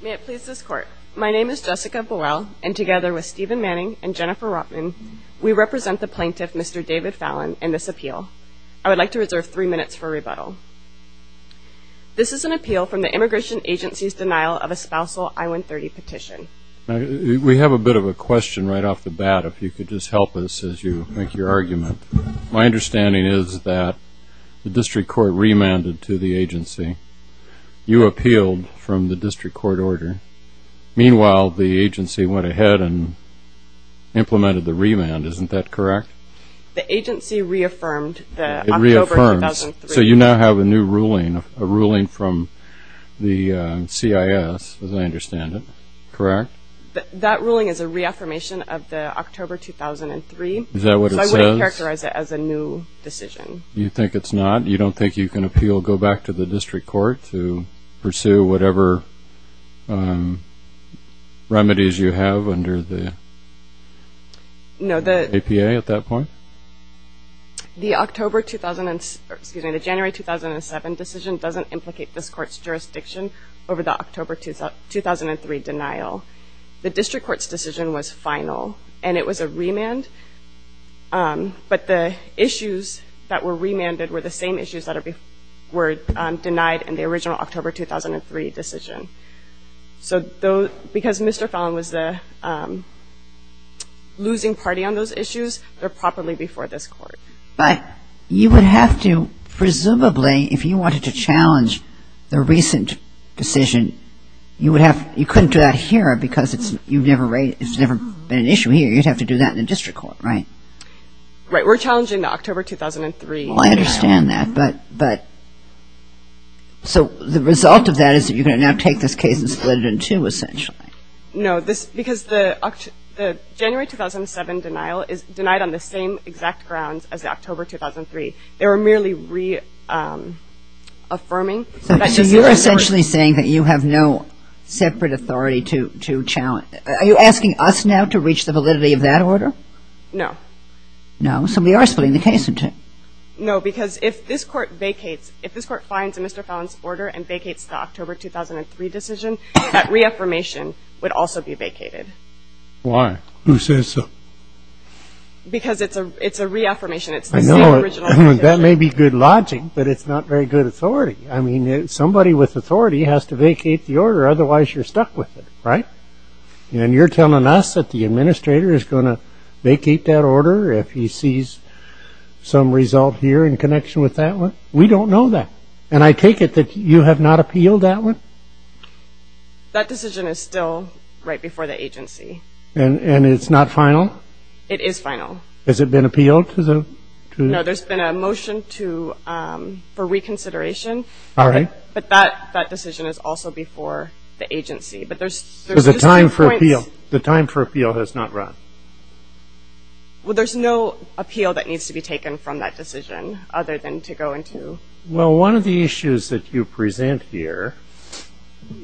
May it please this Court, my name is Jessica Buell, and together with Stephen Manning and Jennifer Rotman, we represent the plaintiff, Mr. David Fallin, in this appeal. I would like to reserve three minutes for rebuttal. This is an appeal from the Immigration Agency's denial of a spousal I-130 petition. We have a bit of a question right off the bat, if you could just help us as you make your argument. My understanding is that the district court remanded to the agency. You appealed from the district court order. Meanwhile, the agency went ahead and implemented the remand, isn't that correct? The agency reaffirmed the October 2003. So you now have a new ruling, a ruling from the CIS, as I understand it, correct? That ruling is a reaffirmation of the October 2003, so I wouldn't characterize it as a new decision. You think it's not? You don't think you can appeal, go back to the district court to pursue whatever remedies you have under the APA at that point? The October 2007, excuse me, the January 2007 decision doesn't implicate this court's jurisdiction over the October 2003 denial. The district court's decision was final, and it was a remand, but the issues that were remanded were the same issues that were denied in the original October 2003 decision. So because Mr. Fallon was the losing party on those issues, they're properly before this court. But you would have to presumably, if you wanted to challenge the recent decision, you couldn't do that here because it's never been an issue here. You'd have to do that in the district court, right? Right. We're challenging the October 2003 denial. Well, I understand that, but, so the result of that is that you're going to now take this case and split it in two, essentially. No, because the January 2007 denial is denied on the same exact grounds as the October 2003. They were merely reaffirming that this was the first. So you're essentially saying that you have no separate authority to challenge. Are you asking us now to reach the validity of that order? No. No? So we are splitting the case in two. No, because if this court vacates, if this court finds a Mr. Fallon's order and vacates the October 2003 decision, that reaffirmation would also be vacated. Why? Who says so? Because it's a reaffirmation. It's the same original decision. That may be good logic, but it's not very good authority. I mean, somebody with authority has to vacate the order, otherwise you're stuck with it, right? And you're telling us that the administrator is going to vacate that order if he sees some result here in connection with that one? We don't know that. And I take it that you have not appealed that one? That decision is still right before the agency. And it's not final? It is final. Has it been appealed to the... No, there's been a motion for reconsideration, but that decision is also before the agency. But there's... There's a time for appeal. The time for appeal has not run. Well, there's no appeal that needs to be taken from that decision, other than to go into... Well, one of the issues that you present here,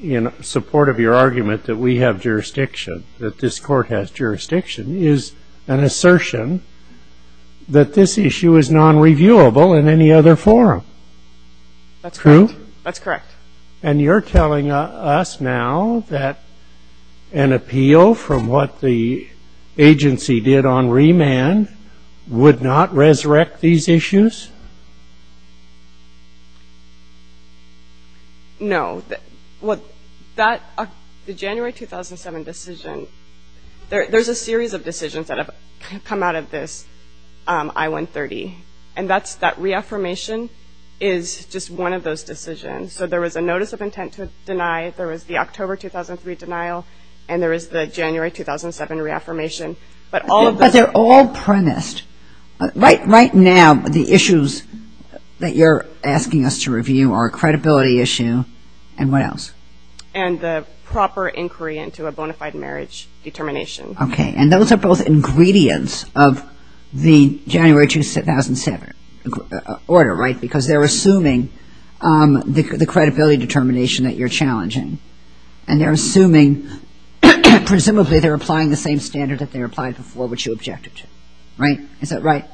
in support of your argument that we have jurisdiction, that this court has jurisdiction, is an assertion that this issue is non-reviewable in any other forum. That's correct. True? And you're telling us now that an appeal, from what the agency did on remand, would not resurrect these issues? No. Well, that... The January 2007 decision... There's a series of decisions that have come out of this I-130. And that reaffirmation is just one of those decisions. So there was a notice of intent to deny. There was the October 2003 denial. And there was the January 2007 reaffirmation. But all of those... But they're all premised. Right now, the issues that you're asking us to review are a credibility issue. And what else? And the proper inquiry into a bona fide marriage determination. Okay. And those are both ingredients of the January 2007 order, right? Because they're a credibility determination that you're challenging. And they're assuming, presumably they're applying the same standard that they applied before, which you objected to. Right? Is that right?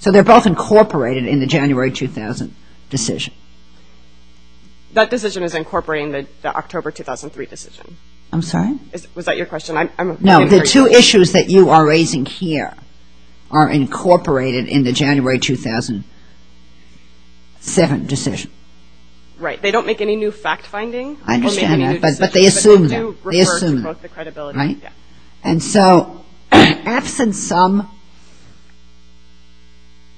So they're both incorporated in the January 2000 decision. That decision is incorporating the October 2003 decision. I'm sorry? Was that your question? No. The two issues that you are raising here are incorporated in the January 2007 decision. Right. They don't make any new fact-finding. I understand that. But they assume that. They assume that, right? And so, absent some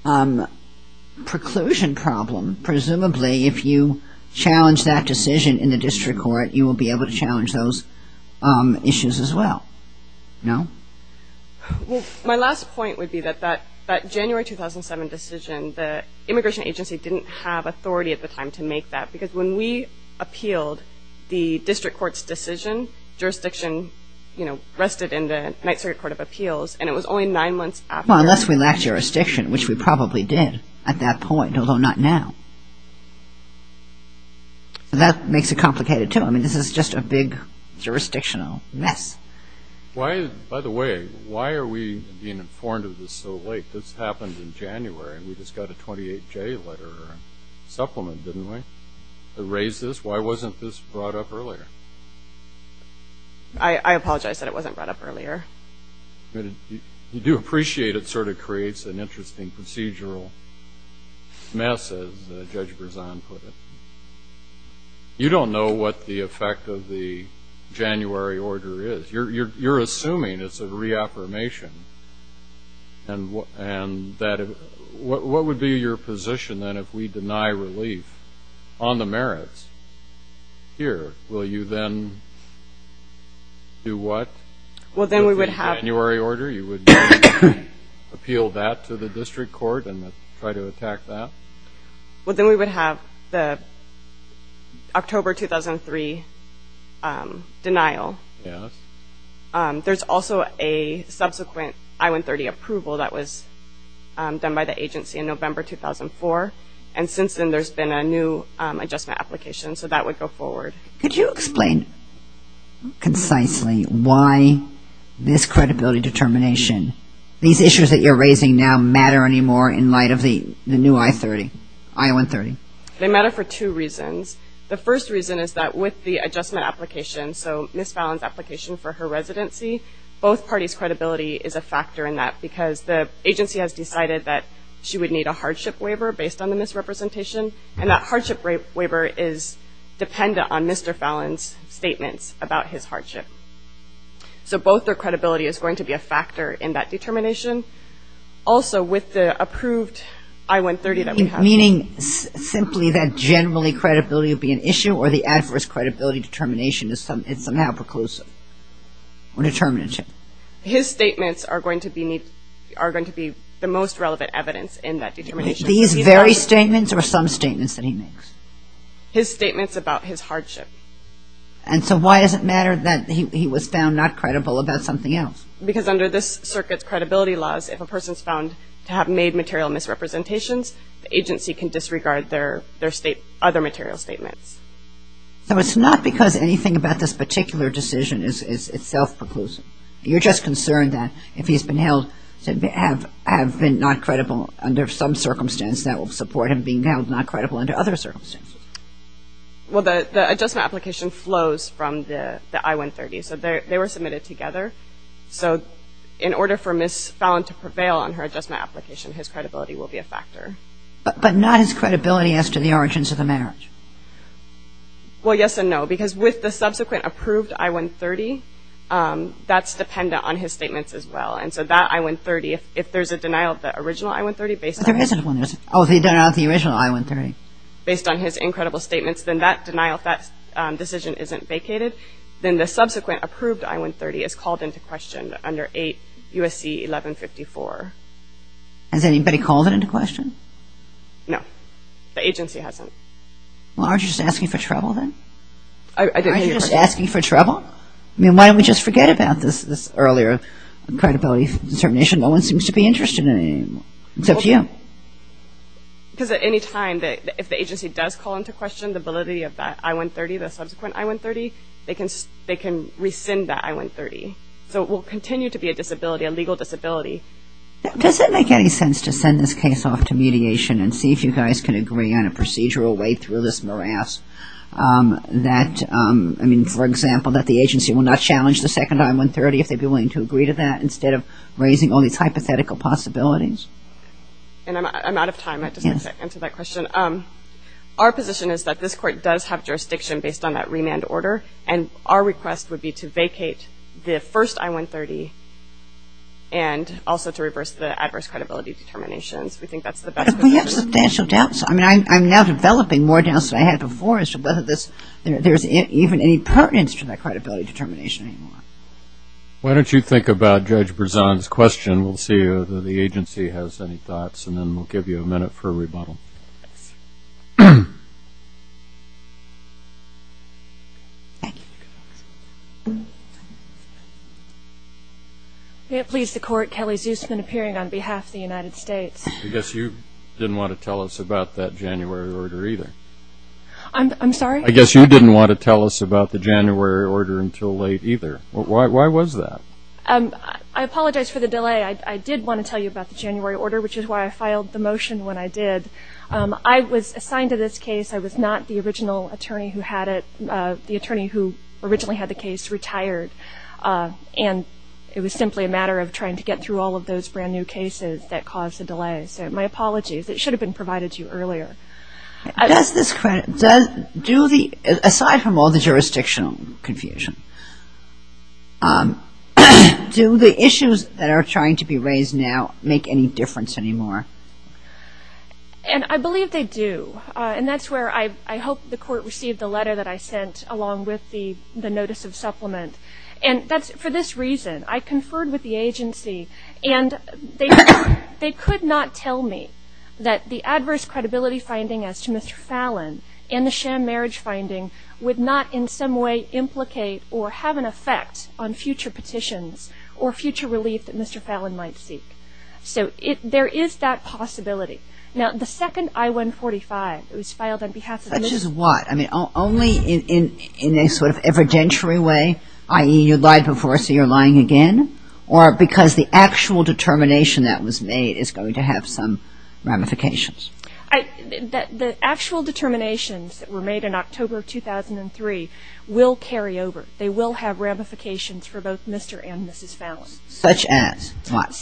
preclusion problem, presumably if you challenge that decision in the district court, you will be able to challenge those issues as well. No? My last point would be that that January 2007 decision, the immigration agency didn't have authority at the time to make that. Because when we appealed the district court's decision, jurisdiction rested in the Ninth Circuit Court of Appeals. And it was only nine months after Well, unless we lacked jurisdiction, which we probably did at that point, although not now. That makes it complicated, too. I mean, this is just a big jurisdictional mess. By the way, why are we being informed of this so late? This happened in January. We just had a 28-J letter supplement, didn't we, that raised this? Why wasn't this brought up earlier? I apologize. I said it wasn't brought up earlier. You do appreciate it sort of creates an interesting procedural mess, as Judge Berzon put it. You don't know what the effect of the January order is. You're assuming it's a reaffirmation. And that, what would be your position, then, if we deny relief on the merits here? Will you then do what with the January order? You would appeal that to the district court and try to attack that? Well, then we would have the October 2003 denial. Yes. There's also a subsequent I-130 approval that was done by the agency in November 2004. And since then, there's been a new adjustment application. So that would go forward. Could you explain concisely why this credibility determination, these issues that you're raising now matter anymore in light of the new I-130? They matter for two reasons. The first reason is that with the adjustment application, so Ms. Fallon's application for her residency, both parties' credibility is a factor in that because the agency has decided that she would need a hardship waiver based on the misrepresentation. And that hardship waiver is dependent on Mr. Fallon's statements about his hardship. So both their credibility is going to be a factor in that determination. Also, with the approved I-130 that we have... Meaning simply that generally credibility would be an issue or the adverse credibility determination is somehow preclusive or determinative. His statements are going to be the most relevant evidence in that determination. These very statements or some statements that he makes? His statements about his hardship. And so why does it matter that he was found not credible about something else? Because under this circuit's credibility laws, if a person's found to have made material misrepresentations, the agency can disregard their other material statements. So it's not because anything about this particular decision is self-preclusive. You're just concerned that if he's been held to have been not credible under some circumstance, that will support him being held not credible under other circumstances. Well, the adjustment application flows from the I-130. So they were submitted together. So in order for Ms. Fallon to prevail on her adjustment application, his credibility will be a factor. But not his credibility as to the origins of the marriage? Well, yes and no. Because with the subsequent approved I-130, that's dependent on his statements as well. And so that I-130, if there's a denial of the original I-130 based on... But there isn't one. Oh, if he denied the original I-130. Based on his incredible statements, then that denial, that decision isn't vacated. Then the subsequent approved I-130 is called into question under 8 U.S.C. 1154. Has anybody called it into question? No. The agency hasn't. Well, aren't you just asking for trouble then? I didn't ask for trouble. Aren't you just asking for trouble? I mean, why don't we just forget about this earlier credibility determination? No one seems to be interested in it anymore, except you. Because at any time, if the agency does call into question the validity of that I-130, the subsequent I-130, they can rescind that I-130. So it will continue to be a disability, a legal disability. Does it make any sense to send this case off to mediation and see if you guys can agree on a procedural way through this morass that, I mean, for example, that the agency will not challenge the second I-130 if they'd be willing to agree to that instead of raising all these hypothetical possibilities? And I'm out of time. I just wanted to answer that question. Our position is that this court does have jurisdiction based on that remand order. And our request would be to vacate the first I-130 and also to reverse the adverse credibility determinations. We think that's the best way to do it. But we have substantial doubts. I mean, I'm now developing more doubts than I had before as to whether there's even any pertinence to that credibility determination anymore. Why don't you think about Judge Berzon's question. We'll see if the agency has any thoughts. Thank you. May it please the court, Kelly Zusman, appearing on behalf of the United States. I guess you didn't want to tell us about that January order either. I'm sorry? I guess you didn't want to tell us about the January order until late either. Why was that? I apologize for the delay. I did want to tell you about the January order, which is why I filed the motion when I did. I was assigned to this case. I was not the original attorney who had it, the attorney who originally had the case retired. And it was simply a matter of trying to get through all of those brand new cases that caused the delay. So my apologies. It should have been provided to you earlier. Does this credit, aside from all the jurisdictional confusion, do the issues that are trying to be raised now make any difference anymore? And I believe they do. And that's where I hope the court received the letter that I sent along with the notice of supplement. And that's for this reason. I conferred with the agency and they could not tell me that the adverse credibility finding as to Mr. Fallon and the sham marriage finding would not in some way implicate or have an effect on future petitions or future relief that Mr. Fallon might seek. So there is that possibility. Now, the second I-145, it was filed on behalf of Mr. Fallon. Such as what? I mean, only in a sort of evidentiary way, i.e., you lied before, so you're lying again? Or because the actual determination that was made is going to have some ramifications? The actual determinations that were made in October of 2003 will carry over. They will have ramifications for both Mr. and Mrs. Fallon. Such as what?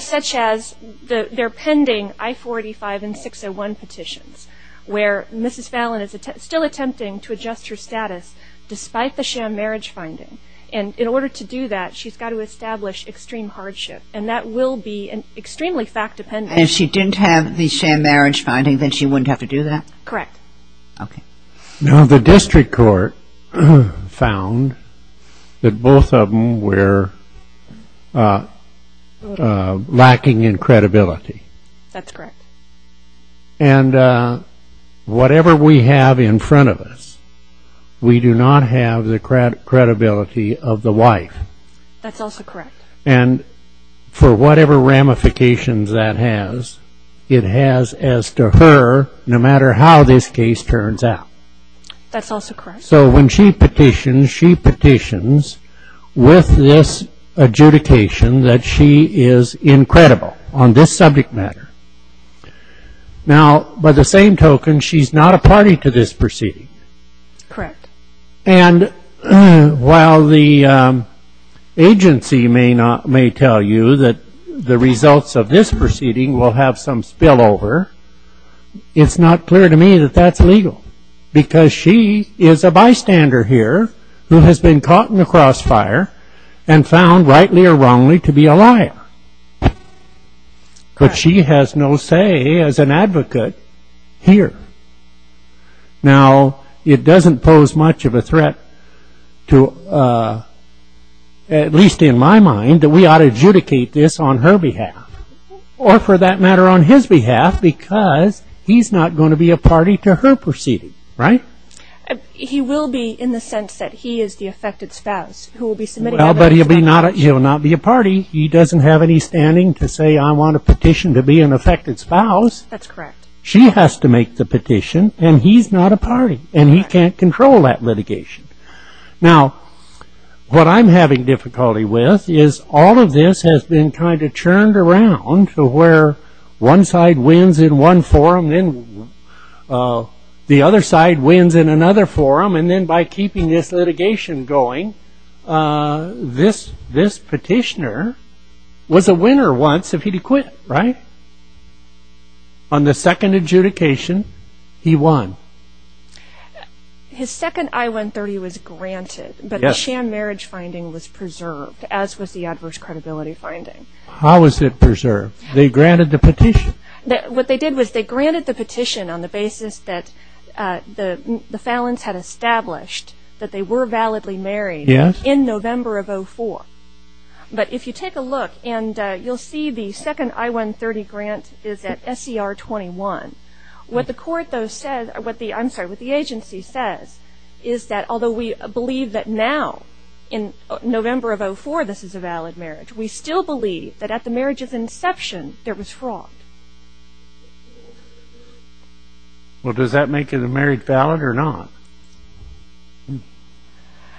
Such as they're pending I-145 and 601 petitions, where Mrs. Fallon is still attempting to adjust her status despite the sham marriage finding. And in order to do that, she's got to establish extreme hardship. And that will be an extremely fact-dependent. And if she didn't have the sham marriage finding, then she wouldn't have to do that? Correct. Okay. Now, the district court found that both of them were lacking in credibility. That's correct. And whatever we have in front of us, we do not have the credibility of the wife. That's also correct. And for whatever ramifications that has, it has as to her, no matter how this case turns out. That's also correct. So when she petitions, she petitions with this adjudication that she is incredible on this subject matter. Now, by the same token, she's not a party to this proceeding. Correct. And while the agency may tell you that the results of this proceeding will have some spillover, it's not clear to me that that's legal. Because she is a bystander here who has been caught in the crossfire and found, rightly or wrongly, to be a liar. But she has no say as an advocate here. Now, it doesn't pose much of a threat to, at least in my mind, that we ought to adjudicate this on her behalf or, for that matter, on his behalf because he's not going to be a party to her proceeding. Right? He will be in the sense that he is the affected spouse who will be submitting evidence. Well, but he'll not be a party. He doesn't have any standing to say, I want a petition to be an affected spouse. That's correct. She has to make the petition, and he's not a party, and he can't control that litigation. Now, what I'm having difficulty with is all of this has been kind of churned around to where one side wins in one forum, then the other side wins in another forum, and then by keeping this litigation going, this petitioner was a winner once if he'd quit, right? On the second adjudication, he won. His second I-130 was granted, but the sham marriage finding was preserved, as was the adverse credibility finding. What they did was they granted the petition on the basis that the Fallons had established that they were validly married in November of 2004. But if you take a look, and you'll see the second I-130 grant is at SCR 21. What the agency says is that although we believe that now, in November of 2004, this is a valid Well, does that make it a married valid or not?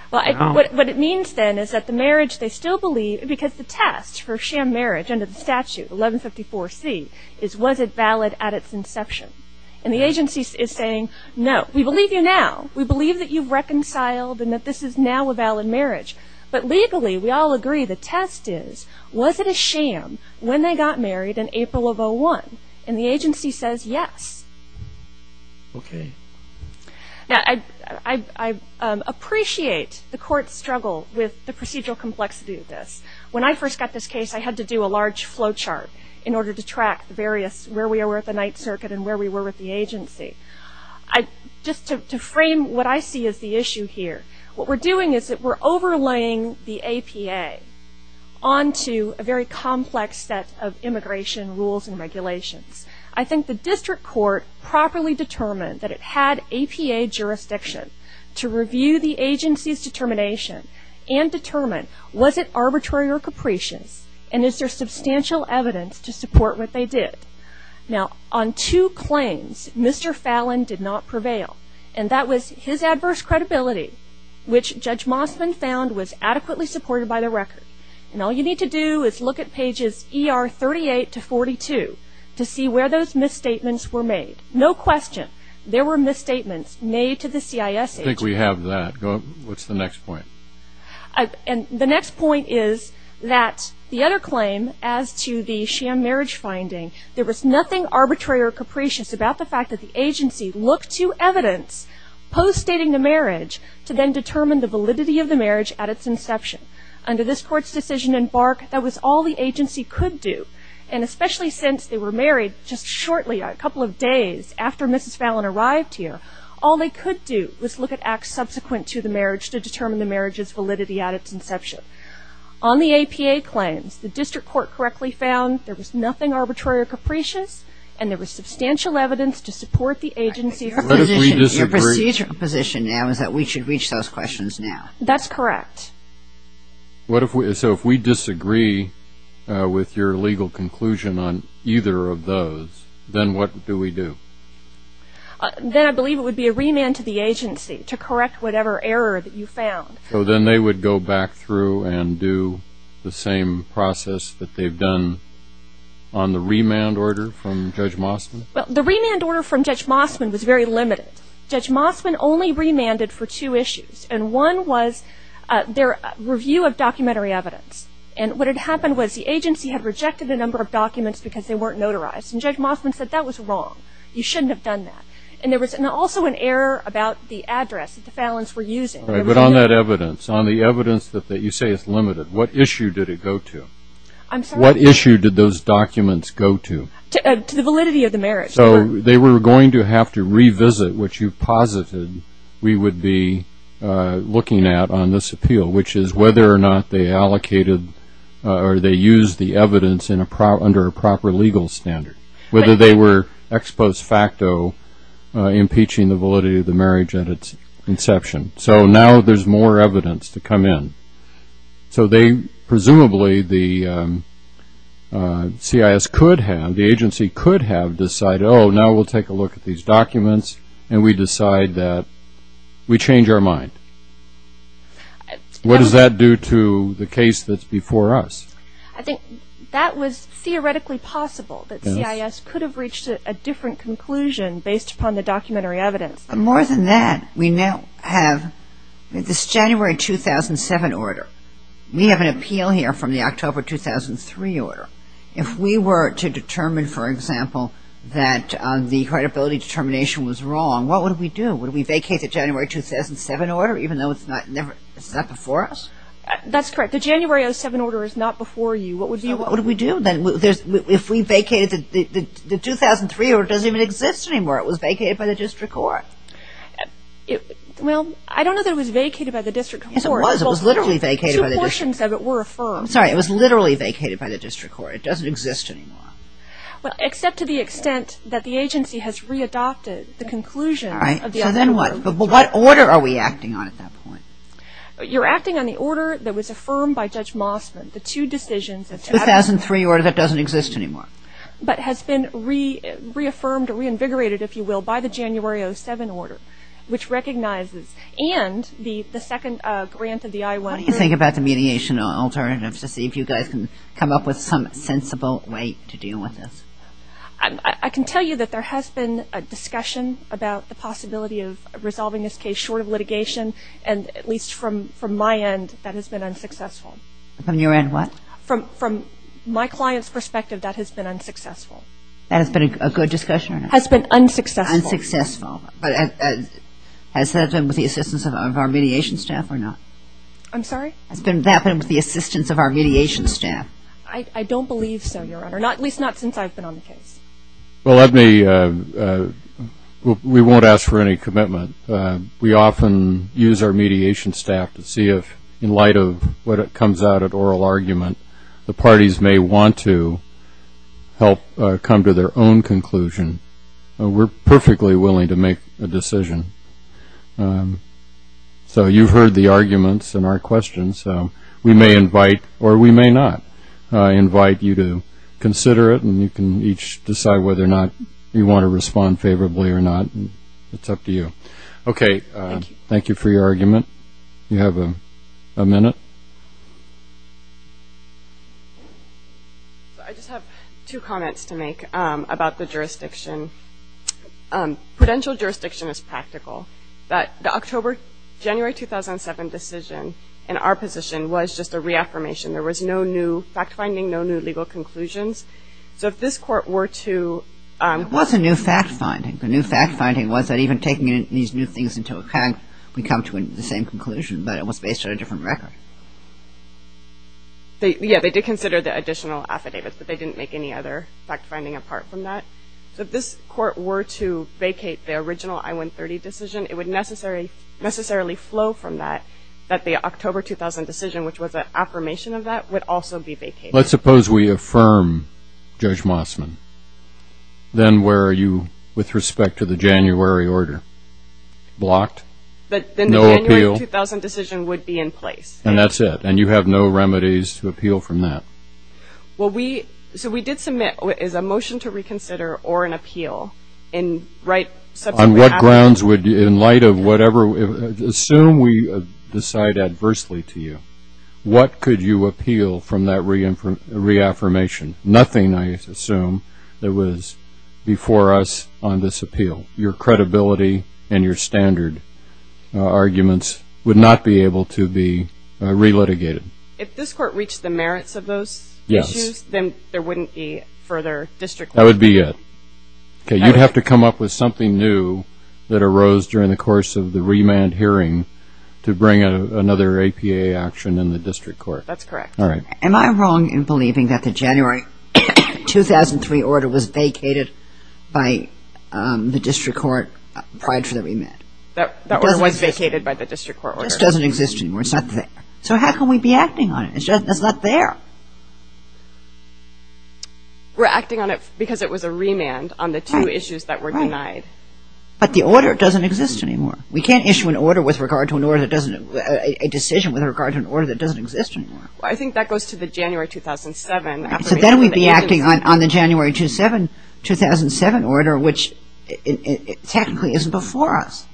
What it means, then, is that the marriage they still believe, because the test for sham marriage under the statute, 1154C, is was it valid at its inception. And the agency is saying, no, we believe you now. We believe that you've reconciled and that this is now a valid marriage. But legally, we all agree the test is, was it a sham when they got married in April of 2001? And the agency says, yes. Okay. Now, I appreciate the court's struggle with the procedural complexity of this. When I first got this case, I had to do a large flow chart in order to track various where we were at the Ninth Circuit and where we were with the agency. Just to frame what I see as the issue here, what we're doing is that we're overlaying the APA onto a very complex set of immigration rules and regulations. I think the district court properly determined that it had APA jurisdiction to review the agency's determination and determine, was it arbitrary or capricious? And is there substantial evidence to support what they did? Now, on two claims, Mr. Fallon did not prevail. And that was his adverse credibility, which Judge Mossman found was adequately supported by the record. And all you need to do is look at pages ER 38 to 42 to see where those misstatements were made. No question, there were misstatements made to the CIS agency. I think we have that. What's the next point? And the next point is that the other claim as to the sham marriage finding, there was nothing arbitrary or capricious about the fact that the agency looked to evidence post-stating the marriage to then determine the validity of the marriage at its inception. Under this court's decision in Bark, that was all the agency could do. And especially since they were married just shortly, a couple of days after Mrs. Fallon arrived here, all they could do was look at acts subsequent to the marriage to determine the marriage's validity at its inception. On the APA claims, the district court correctly found there was nothing arbitrary or capricious, and there was substantial evidence to support the agency. Your procedural position now is that we should reach those questions now. That's correct. So if we disagree with your legal conclusion on either of those, then what do we do? Then I believe it would be a remand to the agency to correct whatever error that you found. So then they would go back through and do the same process that they've done on the remand order from Judge Mossman? Well, the remand order from Judge Mossman was very limited. Judge Mossman only remanded for two issues, and one was their review of documentary evidence. And what had happened was the agency had rejected a number of documents because they weren't notarized, and Judge Mossman said that was wrong. You shouldn't have done that. And there was also an error about the address that the Fallons were using. But on that evidence, on the evidence that you say is limited, what issue did it go to? I'm sorry? What issue did those documents go to? To the validity of the marriage. So they were going to have to revisit what you posited we would be looking at on this appeal, which is whether or not they allocated or they used the evidence under a proper legal standard, whether they were ex post facto impeaching the validity of the marriage at its inception. So now there's more evidence to come in. So presumably the CIS could have, the agency could have decided, oh, now we'll take a look at these documents, and we decide that we change our mind. What does that do to the case that's before us? I think that was theoretically possible, that CIS could have reached a different conclusion based upon the documentary evidence. More than that, we now have this January 2007 order. We have an appeal here from the October 2003 order. If we were to determine, for example, that the credibility determination was wrong, what would we do? Would we vacate the January 2007 order, even though it's not before us? That's correct. The January 2007 order is not before you. What would we do? If we vacated the 2003 order, it doesn't even exist anymore. It was vacated by the district court. Well, I don't know that it was vacated by the district court. Yes, it was. It was literally vacated by the district court. Two portions of it were affirmed. I'm sorry. It was literally vacated by the district court. It doesn't exist anymore. Well, except to the extent that the agency has readopted the conclusion of the other order. All right. So then what? What order are we acting on at that point? You're acting on the order that was affirmed by Judge Mossman. The two decisions. The 2003 order that doesn't exist anymore. But has been reaffirmed or reinvigorated, if you will, by the January 2007 order, which recognizes and the second grant of the I-100. What do you think about the mediation alternatives to see if you guys can come up with some sensible way to deal with this? I can tell you that there has been a discussion about the possibility of resolving this case short of litigation, and at least from my end, that has been unsuccessful. From your end what? From my client's perspective, that has been unsuccessful. That has been a good discussion or not? Has been unsuccessful. Unsuccessful. But has that been with the assistance of our mediation staff or not? I'm sorry? Has that been with the assistance of our mediation staff? I don't believe so, Your Honor, at least not since I've been on the case. Well, we won't ask for any commitment. We often use our mediation staff to see if, in light of what comes out at oral argument, the parties may want to help come to their own conclusion. We're perfectly willing to make a decision. So you've heard the arguments and our questions. We may invite or we may not invite you to consider it, and you can each decide whether or not you want to respond favorably or not. It's up to you. Okay. Thank you. Thank you for your argument. You have a minute. I just have two comments to make about the jurisdiction. Prudential jurisdiction is practical, but the October-January 2007 decision in our position was just a reaffirmation. There was no new fact-finding, no new legal conclusions. So if this Court were to ---- It was a new fact-finding. The new fact-finding was that even taking these new things into account, we come to the same conclusion, but it was based on a different record. Yeah, they did consider the additional affidavits, but they didn't make any other fact-finding apart from that. So if this Court were to vacate the original I-130 decision, it would necessarily flow from that that the October 2000 decision, which was an affirmation of that, would also be vacated. Let's suppose we affirm Judge Mossman. Then where are you with respect to the January order? Blocked? But then the January 2000 decision would be in place. And that's it. And you have no remedies to appeal from that. So we did submit a motion to reconsider or an appeal. On what grounds would you, in light of whatever ---- Assume we decide adversely to you. What could you appeal from that reaffirmation? Nothing, I assume, that was before us on this appeal. Your credibility and your standard arguments would not be able to be relitigated. If this Court reached the merits of those issues, then there wouldn't be further district ---- That would be it. You'd have to come up with something new that arose during the course of the remand hearing to bring another APA action in the district court. That's correct. Am I wrong in believing that the January 2003 order was vacated by the district court prior to the remand? That order was vacated by the district court order. This doesn't exist anymore. It's not there. So how can we be acting on it? It's not there. We're acting on it because it was a remand on the two issues that were denied. But the order doesn't exist anymore. We can't issue an order with regard to an order that doesn't ---- a decision with regard to an order that doesn't exist anymore. I think that goes to the January 2007. So then we'd be acting on the January 2007 order, which technically isn't before us.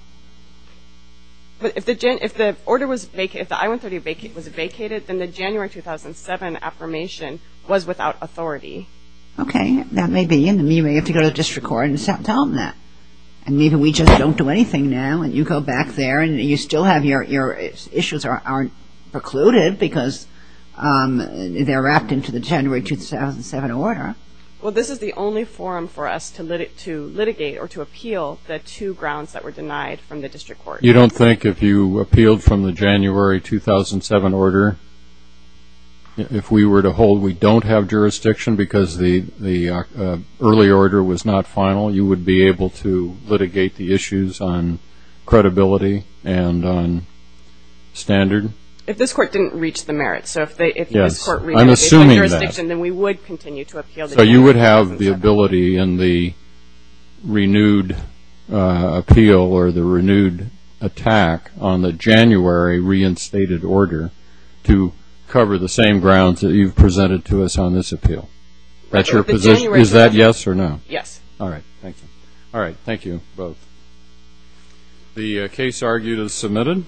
But if the order was vacated, if the I-130 was vacated, then the January 2007 affirmation was without authority. Okay. That may be. You may have to go to the district court and tell them that. And maybe we just don't do anything now and you go back there and you still have your issues aren't precluded because they're wrapped into the January 2007 order. Well, this is the only forum for us to litigate or to appeal the two grounds that were denied from the district court. You don't think if you appealed from the January 2007 order, if we were to hold we don't have jurisdiction because the early order was not final, you would be able to litigate the issues on credibility and on standard? If this court didn't reach the merits. Yes. I'm assuming that. Yes, and then we would continue to appeal the January 2007 order. So you would have the ability in the renewed appeal or the renewed attack on the January reinstated order to cover the same grounds that you've presented to us on this appeal? Is that yes or no? Yes. All right. Thank you. All right. Thank you both. The case argued is submitted.